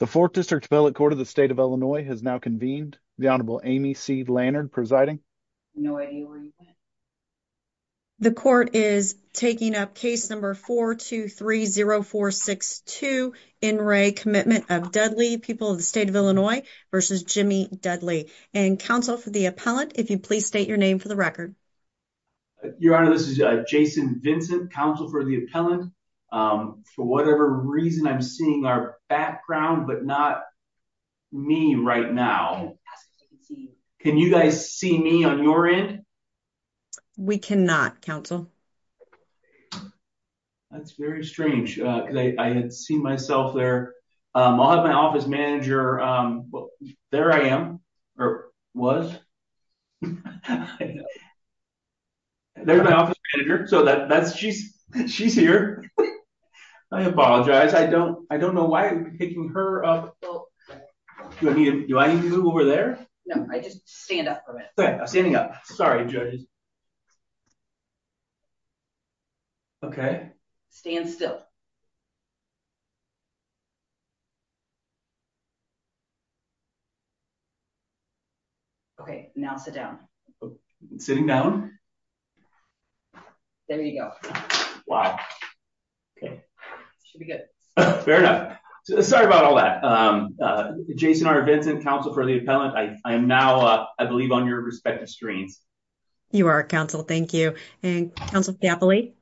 The 4th District Appellate Court of the State of Illinois has now convened. The Honorable Amy C. Lannard presiding. The Court is taking up case number 423-0462, In Re Commitment of Dudley, People of the State of Illinois v. Jimmy Dudley. And Counsel for the Appellant, if you please state your name for the record. Your Honor, this is Jason Vincent, Counsel for the Appellant. For whatever reason, I'm seeing our background, but not me right now. Can you guys see me on your end? We cannot, Counsel. That's very strange, because I had seen myself there. I'll have my office manager. There I am, or was. There's my office manager. She's here. I apologize. I don't know why I'm picking her up. Do I need to move over there? No, just stand up for a minute. Okay, I'm standing up. Sorry, judges. Okay. Stand still. Okay, now sit down. Sitting down. There you go. Wow. Okay, should be good. Fair enough. Sorry about all that. Jason R. Vincent, Counsel for the Appellant. I am now, I believe, on your respective screens. You are, Counsel. Thank you. And Counsel for the Appellate.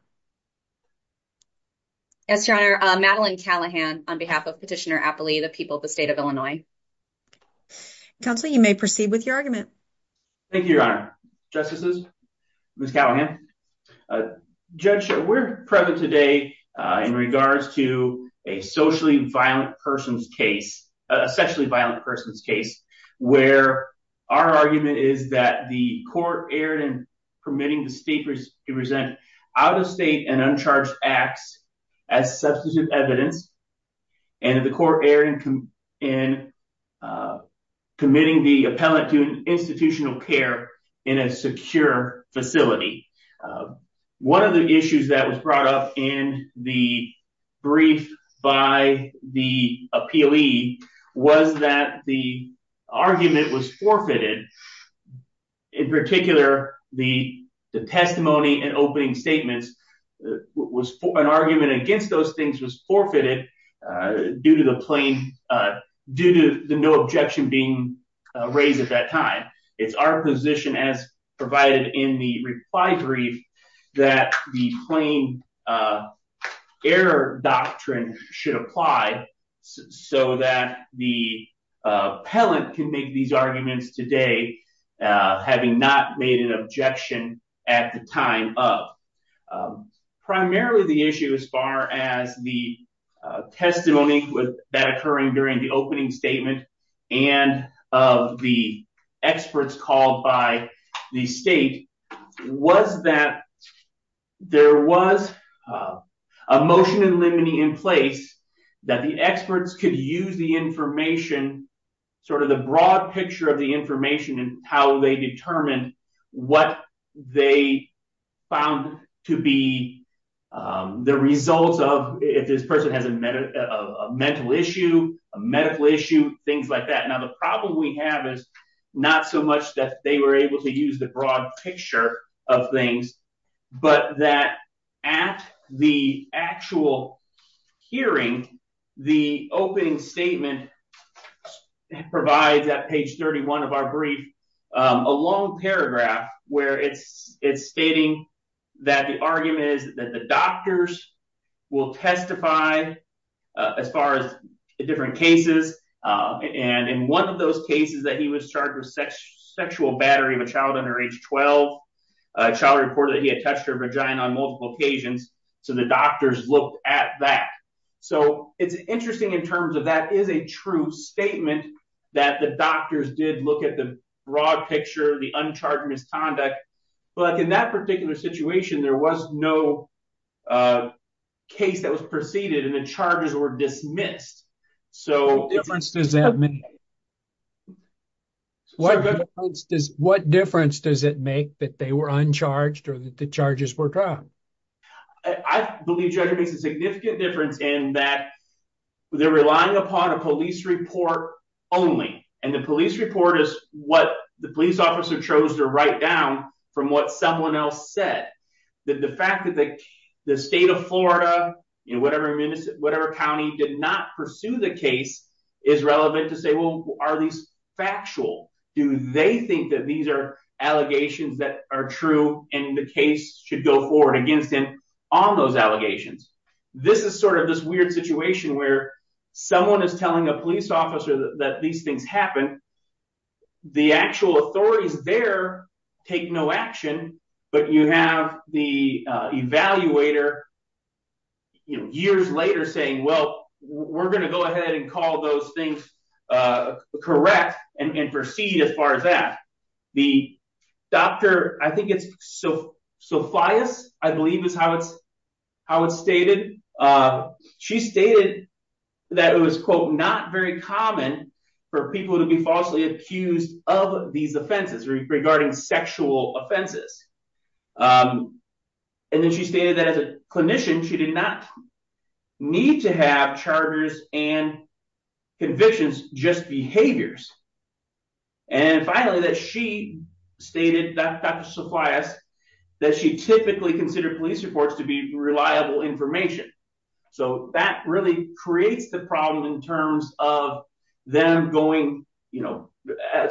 Yes, Your Honor. Madeline Callahan on behalf of Petitioner Appellate, the People of the State of Illinois. Counsel, you may proceed with your argument. Thank you, Your Honor. Justices, Ms. Callahan. Judge, we're present today in regards to a socially violent person's case, a sexually violent person's case, where our argument is that the court erred in permitting the state to present out-of-state and uncharged acts as substantive evidence. And the court erred in committing the appellate to institutional care in a secure facility. One of the issues that was brought up in the brief by the appellee was that the argument was forfeited. In particular, the testimony and opening statements, an argument against those things was forfeited due to the plain, due to the no objection being raised at that time. It's our position, as provided in the reply brief, that the plain error doctrine should apply so that the appellate can make these arguments today, having not made an objection at the time of. Primarily, the issue as far as the testimony that occurring during the opening statement and of the experts called by the state was that there was a motion in limine in place that the experts could use the information, sort of the broad picture of the information, and how they determined what they found to be the results of, if this person has a mental issue, a medical issue, things like that. Now, the problem we have is not so much that they were able to use the broad picture of things, but that at the actual hearing, the opening statement provides, at page 31 of our brief, a long paragraph where it's stating that the argument is that the doctors will testify as far as the different cases. In one of those cases that he was charged with sexual battery of a child under age 12, a child reported that he had touched her vagina on multiple occasions, so the doctors looked at that. It's interesting in terms of that is a true statement that the doctors did look at the broad picture, the uncharged misconduct, but in that particular situation, there was no a case that was preceded, and the charges were dismissed, so... What difference does that make? What difference does it make that they were uncharged or that the charges were dropped? I believe, Judge, it makes a significant difference in that they're relying upon a police report only, and the police report is what the police officer chose to write down from what someone else said. The fact that the state of Florida, whatever county, did not pursue the case is relevant to say, well, are these factual? Do they think that these are allegations that are true and the case should go forward against them on those allegations? This is sort of this weird situation where someone is telling a police officer that these happened, the actual authorities there take no action, but you have the evaluator years later saying, well, we're going to go ahead and call those things correct and proceed as far as that. The doctor, I think it's Sophia, I believe is how it's stated. She stated that it was, quote, not very common for people to be falsely accused of these offenses regarding sexual offenses. And then she stated that as a clinician, she did not need to have charges and convictions, just behaviors. And finally, that she stated, Dr. Sofias, that she typically considered police reports to be reliable information. So that really creates the problem in terms of them going, you know,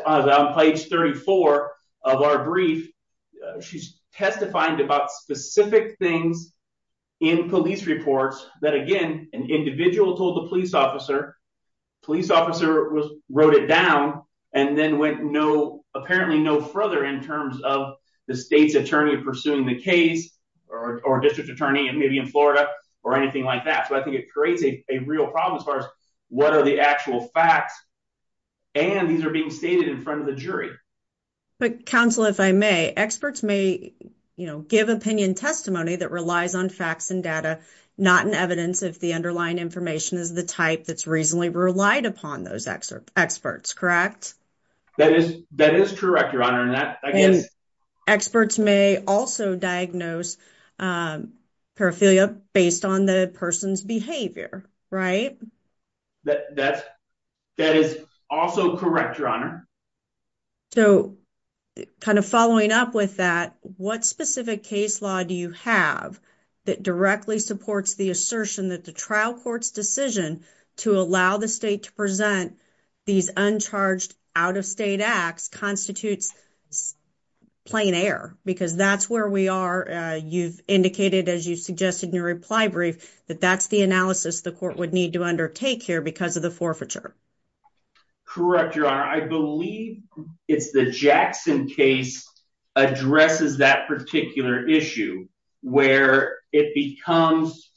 on page 34 of our brief, she's testifying about specific things in police reports that, again, an individual told the police officer, police officer wrote it down, and then went no, apparently no further in terms of the state's attorney pursuing the case, or district attorney, and maybe in Florida, or anything like that. So I think it creates a real problem as far as what are the actual facts, and these are being stated in front of the jury. But counsel, if I may, experts may, you know, give opinion testimony that relies on facts and data, not an evidence if the underlying information is the type that's reasonably relied upon those experts, correct? That is correct, Your Honor. And experts may also diagnose paraphilia based on the person's behavior, right? That is also correct, Your Honor. So kind of following up with that, what specific case law do you have that directly supports the assertion that the trial court's decision to allow the state to present these uncharged out-of-state acts constitutes plain air? Because that's where we are, you've indicated, as you suggested in your reply brief, that that's the analysis the court would need to undertake here because of the forfeiture. Correct, Your Honor. I believe it's the Jackson case addresses that particular issue where it becomes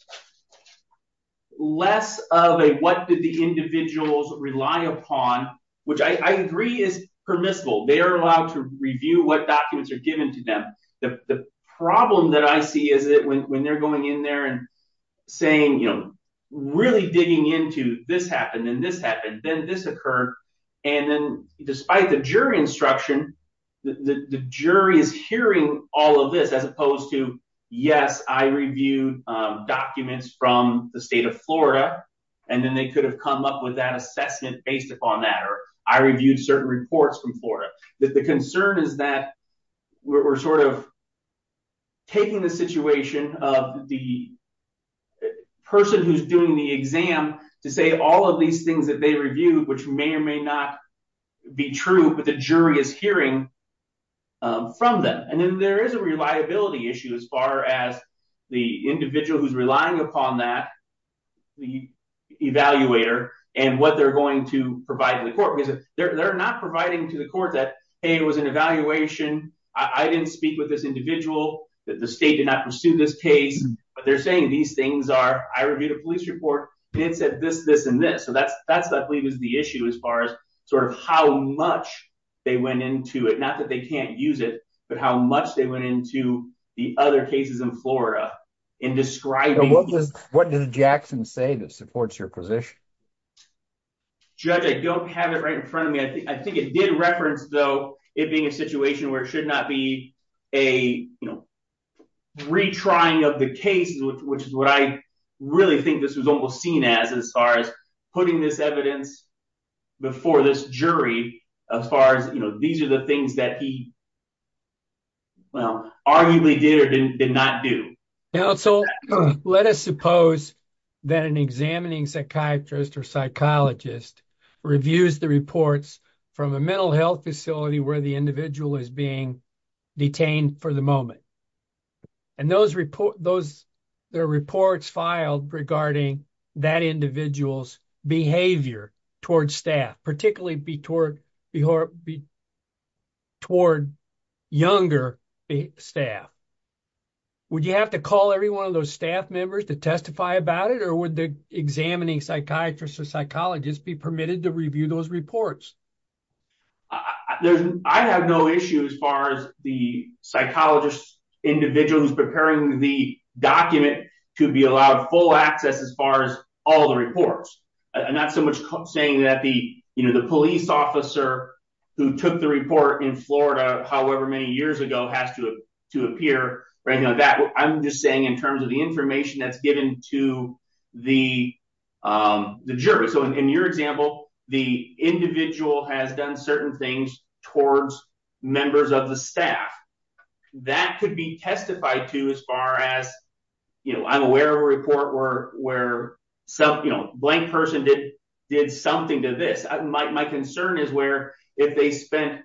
less of a what did the individuals rely upon, which I agree is permissible. They are allowed to review what documents are given to them. The problem that I see is that when they're going in there and saying, you know, really digging into this happened and this happened, then this occurred, and then despite the jury instruction, the jury is hearing all of this as opposed to, yes, I reviewed documents from the state of Florida and then they could have come up with that assessment based upon that or I reviewed certain reports from Florida. The concern is that we're sort of taking the situation of the person who's doing the exam to say all of these things that they reviewed, which may or may not be true, but the jury is hearing from them. Then there is a reliability issue as far as the individual who's relying upon that, the evaluator, and what they're going to provide to the court because they're not providing to the court that, hey, it was an evaluation, I didn't speak with this individual, that the state did not pursue this case, but they're saying these things are, I reviewed a police report and it said this, this, and this. So that's, I believe, is the issue as far as sort of how much they went into it, not that they can't use it, but how much they went into the other cases in Florida in describing- And what does Jackson say that supports your position? Judge, I don't have it right in front of me. I think it did reference, though, it being a situation where it should not be a retrying of the case, which is what I really think this was almost seen as, as far as putting this evidence before this jury, as far as, you know, these are the things that he, well, arguably did or did not do. Now, so let us suppose that an examining psychiatrist or psychologist reviews the reports from a mental health facility where the individual is being detained for the moment. And those reports filed regarding that individual's behavior towards staff, particularly toward younger staff. Would you have to call every one of those staff members to testify about it, or would the examining psychiatrist or psychologist be permitted to review those reports? There's, I have no issue as far as the psychologist individual who's preparing the document to be allowed full access as far as all the reports. I'm not so much saying that the, you know, the police officer who took the report in Florida, however many years ago, has to appear or anything like that. I'm just saying in terms of the information that's given to the jury. So in your example, the individual has done certain things towards members of the staff. That could be testified to as far as, you know, I'm aware of a report where, where some, you know, blank person did something to this. My concern is where if they spent,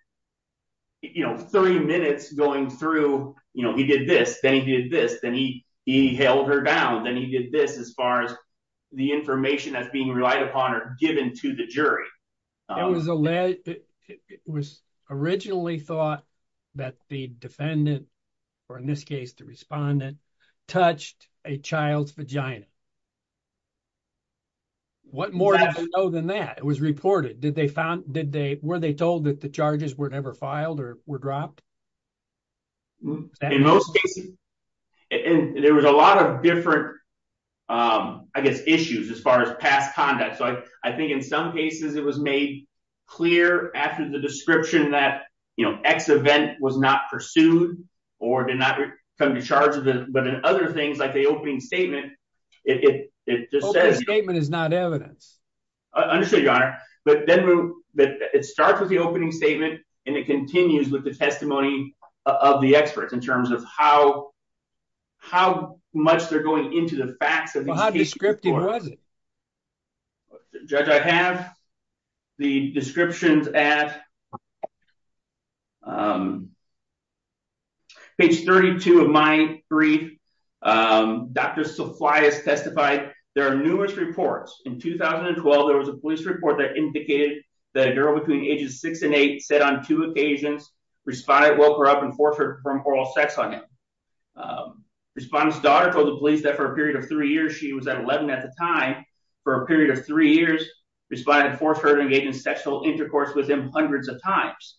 you know, three minutes going through, you know, he did this, then he did this, then he held her down. Then he did this as far as the information that's being relied upon or given to the jury. It was originally thought that the defendant, or in this case, the respondent, touched a child's vagina. What more do I know than that? It was reported. Did they found, did they, were they told that the charges were never filed or were dropped? In most cases, there was a lot of different, I guess, issues as far as past conduct. So I think in some cases it was made clear after the description that, you know, X event was not pursued or did not come to charge of it. But in other things like the opening statement, it just says- Opening statement is not evidence. Understood, Your Honor. But then it starts with the opening statement, and it continues with the testimony of the experts in terms of how, how much they're going into the facts of- How descriptive was it? Judge, I have the descriptions at, um, page 32 of my brief. Dr. Saflias testified there are numerous reports. In 2012, there was a police report that indicated that a girl between ages six and eight said on two occasions, respondent woke her up and forced her to perform oral sex on him. Respondent's daughter told the police that for a period of three years, she was at 11 at the time, for a period of three years, respondent forced her to engage in sexual intercourse with him hundreds of times.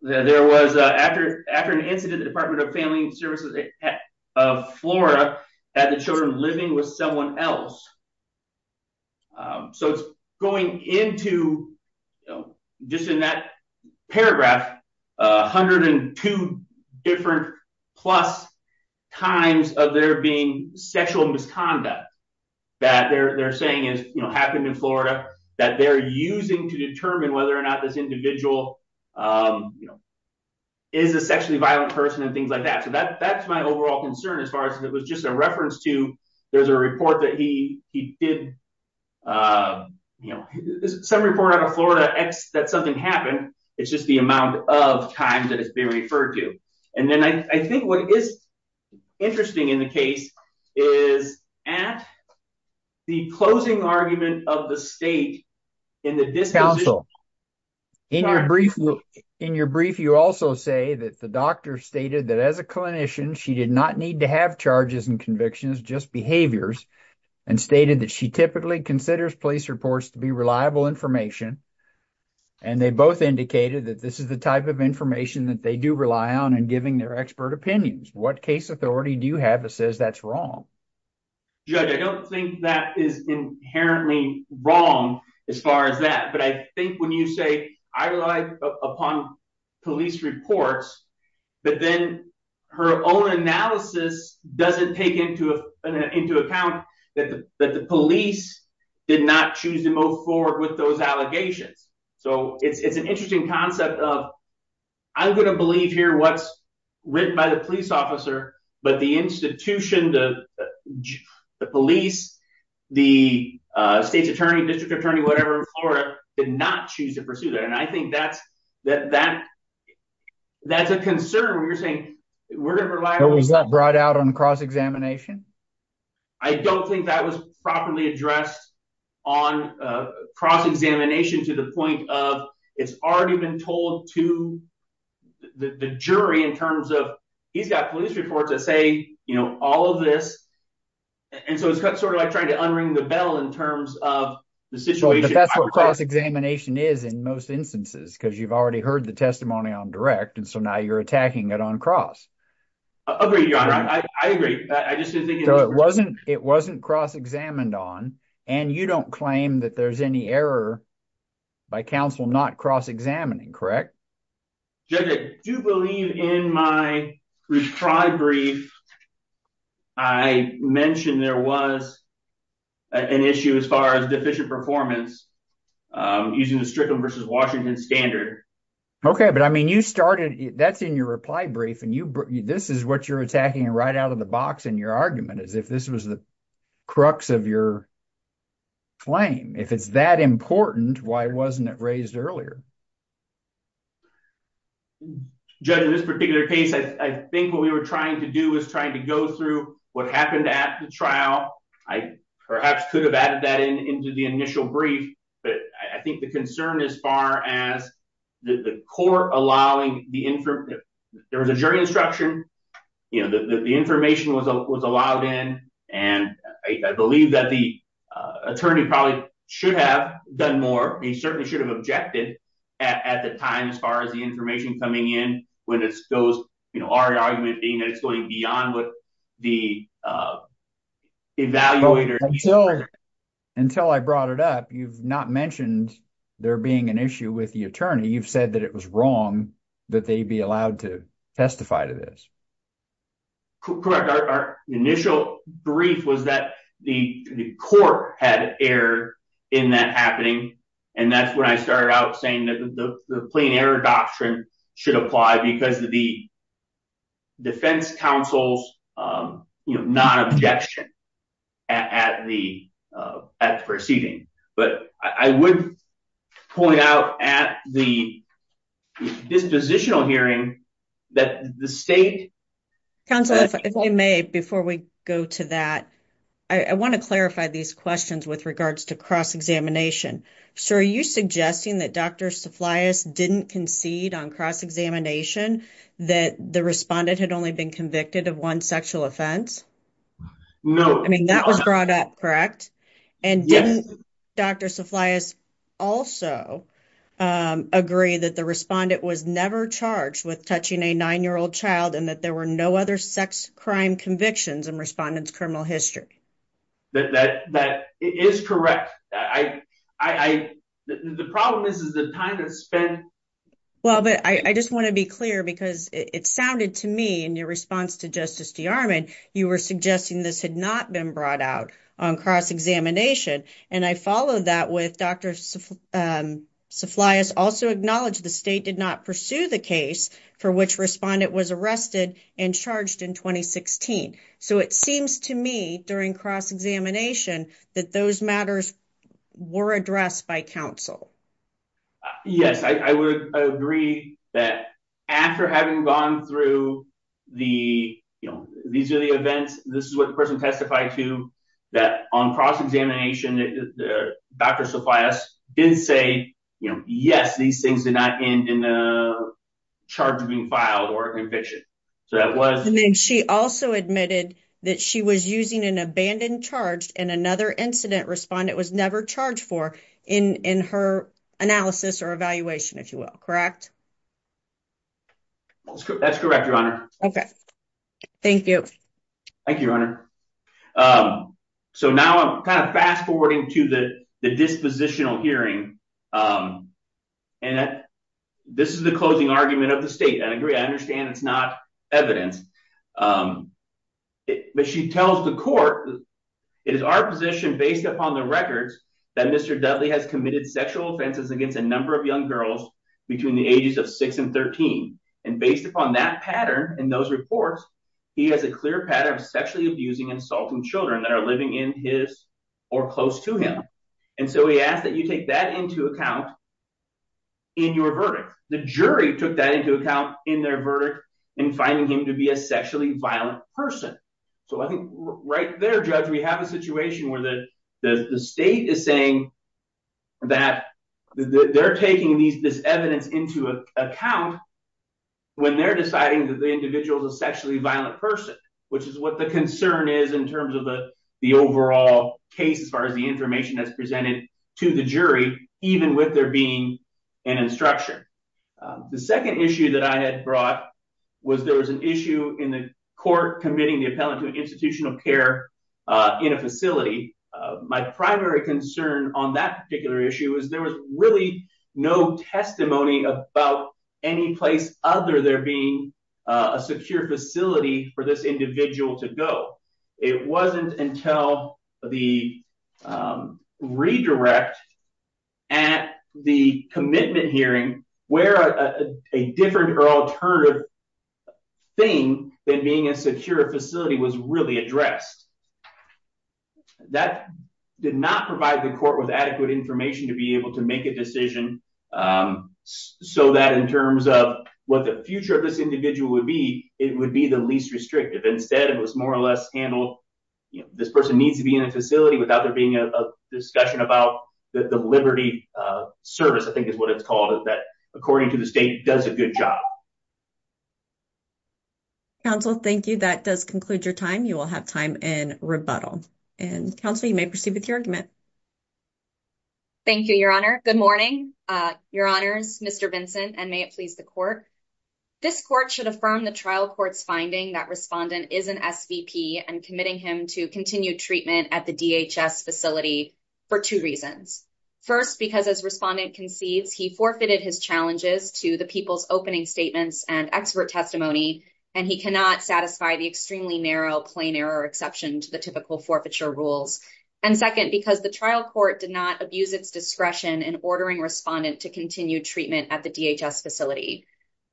There was, after an incident, the Department of Family Services of Florida had the children living with someone else. Um, so it's going into, just in that paragraph, 102 different plus times of there being sexual misconduct that they're saying is, you know, happened in Florida, that they're using to determine whether or not this individual, um, you know, is a sexually violent person and things like that. So that, that's my overall concern as far as it was just a reference to, there's a report that he, he did, uh, you know, some report out of Florida, X, that something happened. It's just the amount of times that it's been referred to. And then I think what is interesting in the case is at the closing argument of the state in the disposition... Counsel, in your brief, in your brief, you also say that the doctor stated that as a clinician, she did not need to have charges and convictions, just behaviors, and stated that she typically considers police reports to be reliable information. And they both indicated that this is the type of information that they do rely on and giving their expert opinions. What case authority do you have that says that's wrong? Judge, I don't think that is inherently wrong as far as that. But I think when you say I rely upon police reports, but then her own analysis doesn't take into account that the police did not choose to move forward with those allegations. So it's an interesting concept of I'm going to believe here what's written by the police officer, but the institution, the police, the state's attorney, district attorney, whatever in Florida, did not choose to pursue that. And I think that's a concern when you're saying we're going to rely... But was that brought out on cross-examination? I don't think that was properly addressed on cross-examination to the point of it's already been told to the jury in terms of he's got police reports that say, you know, all of this. And so it's sort of like trying to unring the bell in terms of the situation. But that's what cross-examination is in most instances, because you've already heard the testimony on direct. And so now you're attacking it on cross. Agreed, Your Honor. I agree. I just didn't think it was... So it wasn't cross-examined on, and you don't claim that there's any error by counsel not cross-examining, correct? Judge, I do believe in my reprieve brief, I mentioned there was an issue as far as performance using the Strickland v. Washington standard. Okay. But I mean, you started... That's in your reply brief, and this is what you're attacking right out of the box in your argument, as if this was the crux of your claim. If it's that important, why wasn't it raised earlier? Judge, in this particular case, I think what we were trying to do was trying to go through what happened at the trial. I perhaps could have added that into the initial brief, but I think the concern as far as the court allowing the... There was a jury instruction. The information was allowed in, and I believe that the attorney probably should have done more. He certainly should have objected at the time as far as the information coming in, you know, our argument being that it's going beyond what the evaluator... Until I brought it up, you've not mentioned there being an issue with the attorney. You've said that it was wrong that they be allowed to testify to this. Correct. Our initial brief was that the court had error in that happening, and that's when I started out saying that the plain error doctrine should apply because of the defense counsel's non-objection at the proceeding, but I would point out at the dispositional hearing that the state... Counsel, if I may, before we go to that, I want to clarify these questions with regards to cross-examination. Sir, are you suggesting that Dr. Saflias didn't concede on cross-examination that the respondent had only been convicted of one sexual offense? No. I mean, that was brought up, correct? Yes. And didn't Dr. Saflias also agree that the respondent was never charged with touching a nine-year-old child and that there were no other sex crime convictions in respondent's criminal history? That is correct. The problem is the time that's spent... Well, but I just want to be clear because it sounded to me in your response to Justice DeArmond, you were suggesting this had not been brought out on cross-examination, and I followed that with Dr. Saflias also acknowledged the state did not pursue the case for which respondent was arrested and charged in 2016. So it seems to me during cross-examination that those matters were addressed by counsel. Yes. I would agree that after having gone through the... These are the events. This is what the person testified to that on cross-examination, Dr. Saflias did say, yes, these things did not end in a charge being filed or conviction. So that was... And then she also admitted that she was using an abandoned charge and another incident respondent was never charged for in her analysis or evaluation, if you will, correct? That's correct, Your Honor. Okay. Thank you. Thank you, Your Honor. So now I'm kind of fast-forwarding to the dispositional hearing, and this is the closing argument of the state. I agree. I understand it's not evidence, but she tells the court, it is our position based upon the records that Mr. Dudley has committed sexual offenses against a number of young girls between the ages of six and 13. And based upon that pattern in those reports, he has a clear pattern of sexually abusing and assaulting children that are living in his or close to him. And so he asked that you take that into account in your verdict. The jury took that into account in their verdict in finding him to be a sexually violent person. So I think right there, Judge, we have a situation where the state is saying that they're taking this evidence into account when they're deciding that the individual is a overall case as far as the information that's presented to the jury, even with there being an instruction. The second issue that I had brought was there was an issue in the court committing the appellant to institutional care in a facility. My primary concern on that particular issue is there was really no testimony about any place other there being a secure facility for this individual to go. It wasn't until the redirect at the commitment hearing where a different or alternative thing than being a secure facility was really addressed. That did not provide the court with adequate information to be able to make a decision so that in terms of what the future of this individual would be, it would be the least restrictive. Instead, it was more or less handled, this person needs to be in a facility without there being a discussion about the liberty service, I think is what it's called, that according to the state does a good job. Counsel, thank you. That does conclude your time. You will have time in rebuttal. And counsel, you may proceed with your argument. Thank you, Your Honor. Good morning, Your Honors, Mr. Vincent, and may it please the court. This court should affirm the trial court's finding that Respondent is an SVP and committing him to continued treatment at the DHS facility for two reasons. First, because as Respondent concedes, he forfeited his challenges to the people's opening statements and expert testimony, and he cannot satisfy the extremely narrow plain error exception to the typical forfeiture rules. And second, because the trial court did not abuse its discretion in ordering Respondent to continue treatment at the DHS facility.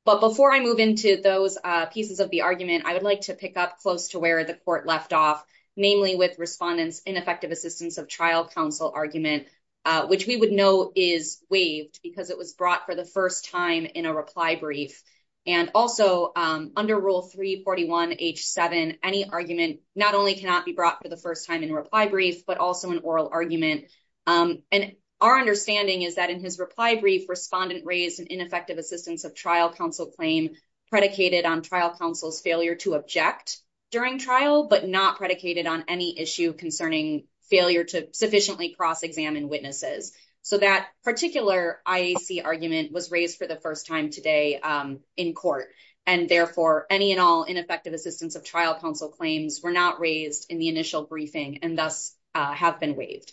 But before I move into those pieces of the argument, I would like to pick up close to where the court left off, namely with Respondent's ineffective assistance of trial counsel argument, which we would know is waived because it was brought for the first time in a reply brief. And also, under Rule 341H7, any argument not only cannot be brought for the first time in a reply brief, but also an oral argument. And our understanding is that in his reply brief, Respondent raised an ineffective assistance of trial counsel claim predicated on trial counsel's failure to object during trial, but not predicated on any issue concerning failure to sufficiently cross-examine witnesses. So that particular IAC argument was raised for the first time today in court. And therefore, any and all ineffective assistance of trial counsel claims were not raised in the initial briefing and thus have been waived.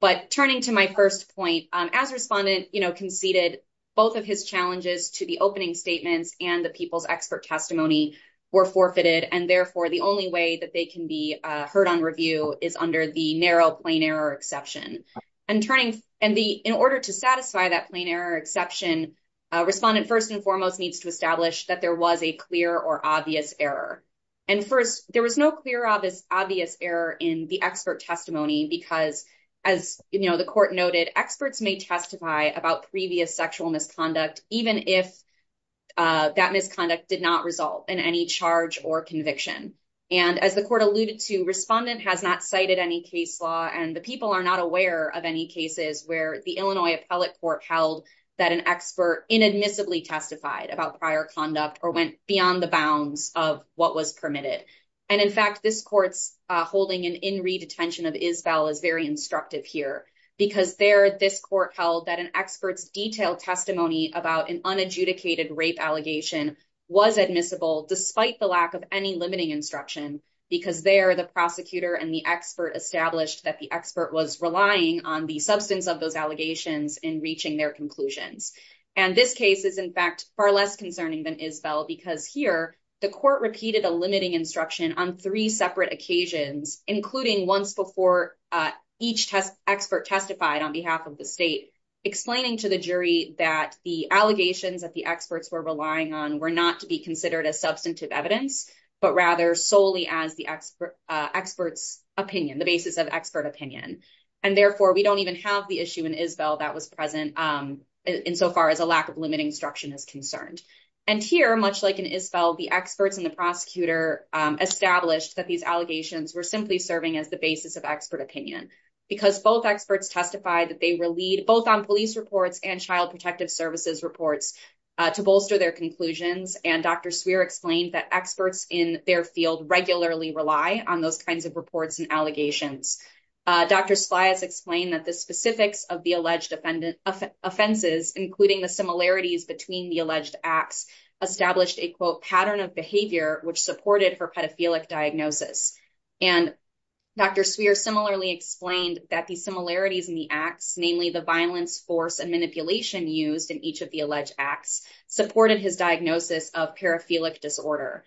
But turning to my first point, as Respondent conceded, both of his challenges to the opening statements and the people's expert testimony were forfeited. And therefore, the only way that they can be heard on review is under the narrow plain error exception. And in order to satisfy that narrow plain error exception, Respondent first and foremost needs to establish that there was a clear or obvious error. And first, there was no clear obvious error in the expert testimony because, as the court noted, experts may testify about previous sexual misconduct even if that misconduct did not result in any charge or conviction. And as the court alluded to, Respondent has not cited any case law, and the people are not aware of any cases where the Illinois Appellate Court held that an expert inadmissibly testified about prior conduct or went beyond the bounds of what was permitted. And in fact, this court's holding an in-read attention of Isbell is very instructive here because there, this court held that an expert's detailed testimony about an unadjudicated rape allegation was admissible despite the lack of any limiting instruction because there, the prosecutor and the expert established that the expert was relying on the substance of those allegations in reaching their conclusions. And this case is, in fact, far less concerning than Isbell because here, the court repeated a limiting instruction on three separate occasions, including once before each expert testified on behalf of the state, explaining to the jury that the allegations that the experts were relying on were not to be considered as substantive evidence, but rather solely as the expert's opinion, the basis of expert opinion. And therefore, we don't even have the issue in Isbell that was present insofar as a lack of limiting instruction is concerned. And here, much like in Isbell, the experts and the prosecutor established that these allegations were simply serving as the basis of expert opinion because both experts testified that they relied both on police reports and child protective services reports to bolster their conclusions. And Dr. Swear explained that experts in their field regularly rely on those kinds of reports and allegations. Dr. Splies explained that the specifics of the alleged offences, including the similarities between the alleged acts, established a, quote, pattern of behavior, which supported her pedophilic diagnosis. And Dr. Swear similarly explained that the similarities in the acts, namely the violence, force and manipulation used in each of the alleged acts, supported his diagnosis of paraphilic disorder.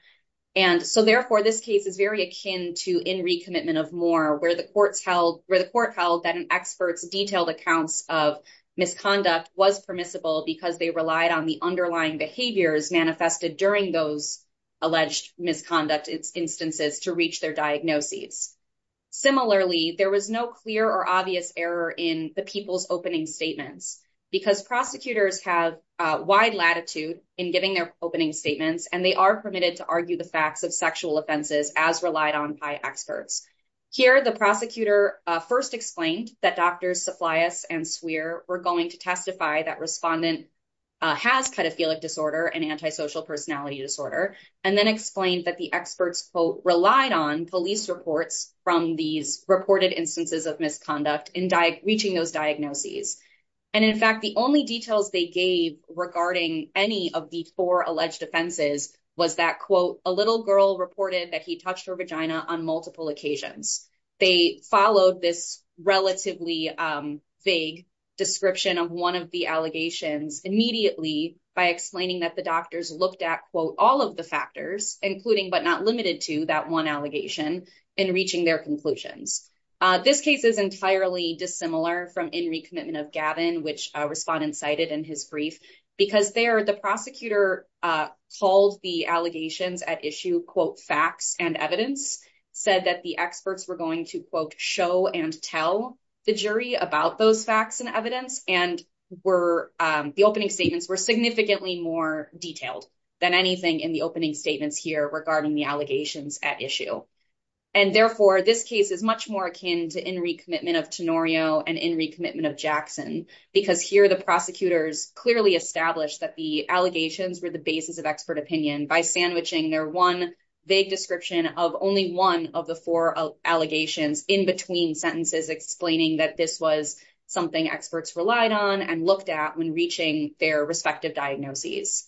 And so therefore, this case is very akin to in recommitment of more where the courts held, where the court held that an expert's detailed accounts of misconduct was permissible because they relied on the underlying behaviors manifested during those alleged misconduct instances to reach their diagnoses. Similarly, there was no clear or error in the people's opening statements because prosecutors have a wide latitude in giving their opening statements and they are permitted to argue the facts of sexual offenses as relied on by experts. Here, the prosecutor first explained that Drs. Splies and Swear were going to testify that respondent has pedophilic disorder and antisocial personality disorder, and then explained that the relied on police reports from these reported instances of misconduct in reaching those diagnoses. And in fact, the only details they gave regarding any of the four alleged offenses was that, quote, a little girl reported that he touched her vagina on multiple occasions. They followed this relatively vague description of one of the allegations immediately by explaining that the doctors looked at, quote, all of the factors, including but not limited to that one allegation in reaching their conclusions. This case is entirely dissimilar from in recommitment of Gavin, which respondent cited in his brief, because there the prosecutor called the allegations at issue, quote, facts and evidence, said that the experts were going to, quote, show and tell the jury about those facts and evidence, and the opening statements were significantly more detailed than anything in the opening statements here regarding the allegations at issue. And therefore, this case is much more akin to in recommitment of Tenorio and in recommitment of Jackson, because here the prosecutors clearly established that the allegations were the basis of expert opinion by sandwiching their one vague description of only one of the four allegations in between sentences, explaining that this was something experts relied on and looked at when reaching their respective diagnoses.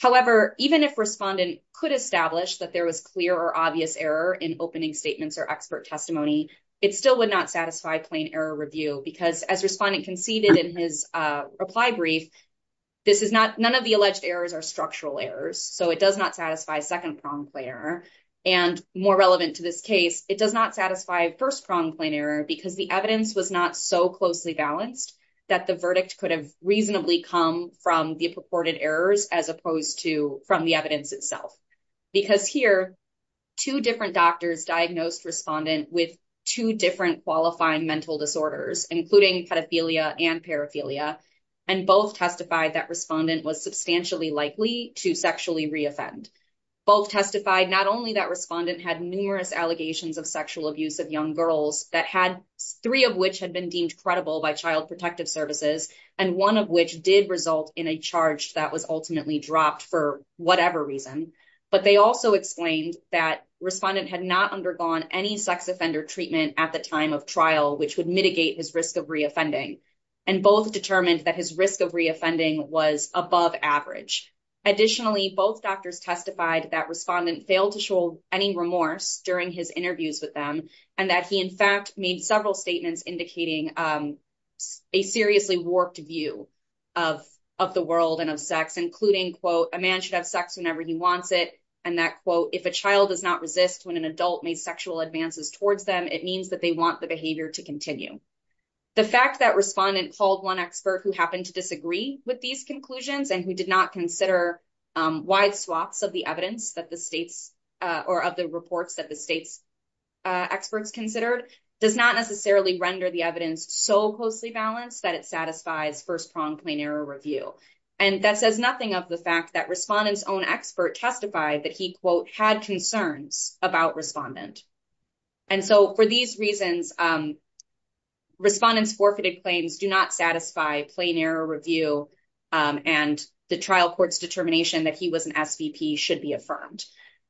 However, even if respondent could establish that there was clear or obvious error in opening statements or expert testimony, it still would not satisfy plain error review, because as respondent conceded in his reply brief, this is not, none of the alleged errors are structural errors, so it does not satisfy second-pronged plain error. And more relevant to this case, it does not satisfy first-pronged plain error, because the evidence was not so closely balanced that the verdict could have reasonably come from the purported errors as opposed to from the evidence itself. Because here, two different doctors diagnosed respondent with two different qualifying mental disorders, including pedophilia and paraphilia, and both testified that respondent was substantially likely to sexually re-offend. Both testified not only that respondent had numerous allegations of sexual abuse of young girls, that had, three of which had been deemed credible by child protective services, and one of which did result in a charge that was ultimately dropped for whatever reason, but they also explained that respondent had not undergone any sex offender treatment at the time of trial, which would mitigate his risk of re-offending, and both determined that his risk of re-offending was above average. Additionally, both doctors testified that respondent failed to show any remorse during his interviews with them, and that he in fact made several statements indicating a seriously warped view of the world and of sex, including, quote, a man should have sex whenever he wants it, and that, quote, if a child does not resist when an adult made sexual advances towards them, it means that they want the behavior to continue. The fact that respondent called one expert who happened to disagree with these conclusions and who did not consider wide swaths of the evidence that the state's, or of the reports that the state's experts considered, does not necessarily render the evidence so closely balanced that it satisfies first-pronged plain error review, and that says nothing of the fact that respondent's own expert testified that he, quote, had concerns about respondent. And so, for these reasons, respondent's forfeited claims do not satisfy plain error review, and the trial court's determination that he was an SVP should be affirmed.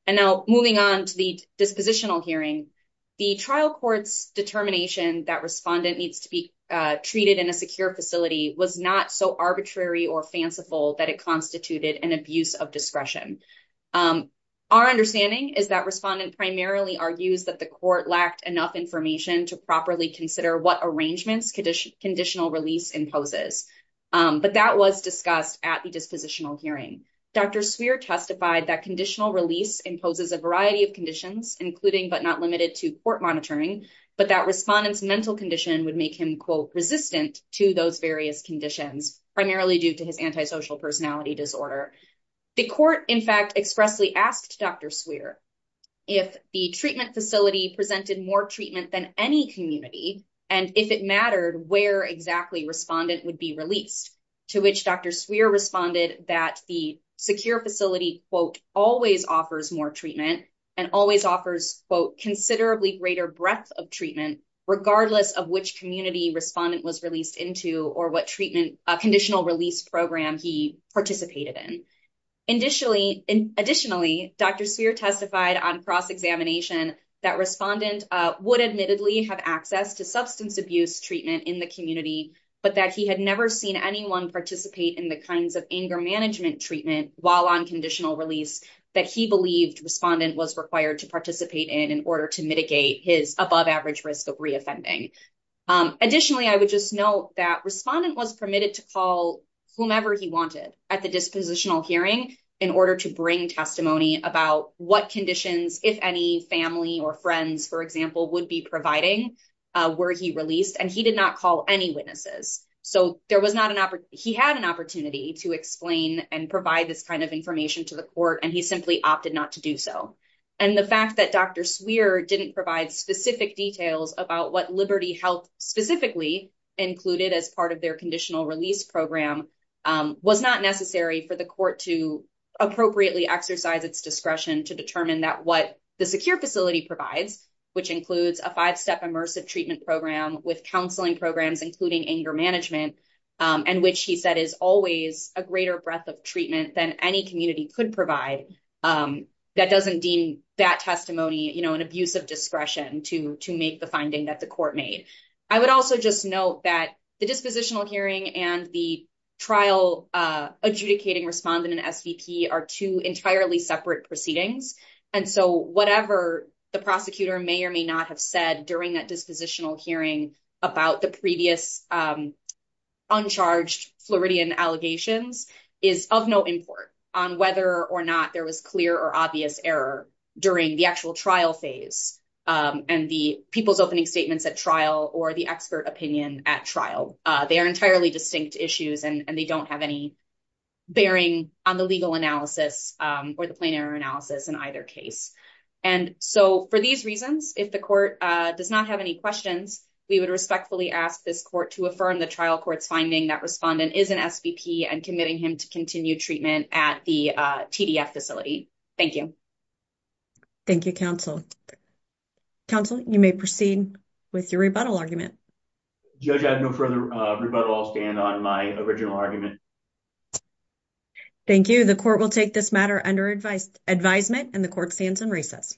And now, moving on to the dispositional hearing, the trial court's determination that respondent needs to be treated in a secure facility was not so arbitrary or fanciful that it constituted an abuse of discretion. Our understanding is that respondent primarily argues that the court lacked enough information to properly consider what arrangements conditional release imposes, but that was discussed at the dispositional hearing. Dr. Swear testified that conditional release imposes a variety of conditions, including but not limited to court monitoring, but that respondent's mental condition would make him, quote, resistant to those various conditions, primarily due to his personality disorder. The court, in fact, expressly asked Dr. Swear if the treatment facility presented more treatment than any community, and if it mattered where exactly respondent would be released, to which Dr. Swear responded that the secure facility, quote, always offers more treatment and always offers, quote, considerably greater breadth of treatment, regardless of which community respondent was released into or what treatment, conditional release program he participated in. Additionally, Dr. Swear testified on cross-examination that respondent would admittedly have access to substance abuse treatment in the community, but that he had never seen anyone participate in the kinds of anger management treatment while on conditional release that he believed respondent was required to participate in in order to mitigate his above risk of re-offending. Additionally, I would just note that respondent was permitted to call whomever he wanted at the dispositional hearing in order to bring testimony about what conditions, if any, family or friends, for example, would be providing were he released, and he did not call any witnesses. So there was not an opportunity, he had an opportunity to explain and provide this kind of information to the court, and he simply opted not to do so. And the fact that Dr. Swear didn't provide specific details about what Liberty Health specifically included as part of their conditional release program was not necessary for the court to appropriately exercise its discretion to determine that what the secure facility provides, which includes a five-step immersive treatment program with counseling programs, including anger management, and which he said is always a greater breadth of treatment than any community could provide, that doesn't deem that testimony an abuse of discretion to make the finding that the court made. I would also just note that the dispositional hearing and the trial adjudicating respondent and SVP are two entirely separate proceedings, and so whatever the prosecutor may or may not have said during that dispositional hearing about the previous uncharged Floridian allegations is of no import on whether or not there was clear or obvious error during the actual trial phase and the people's opening statements at trial or the expert opinion at trial. They are entirely distinct issues, and they don't have any bearing on the legal analysis or the plain error analysis in either case. And so for these reasons, if the court does not have any questions, we would respectfully ask this court to affirm the trial court's finding that respondent is an SVP and committing him to continue treatment at the TDF facility. Thank you. Thank you, counsel. Counsel, you may proceed with your rebuttal argument. Judge, I have no further rebuttal. I'll stand on my original argument. Thank you. The court will take this matter under advisement, and the court stands in recess.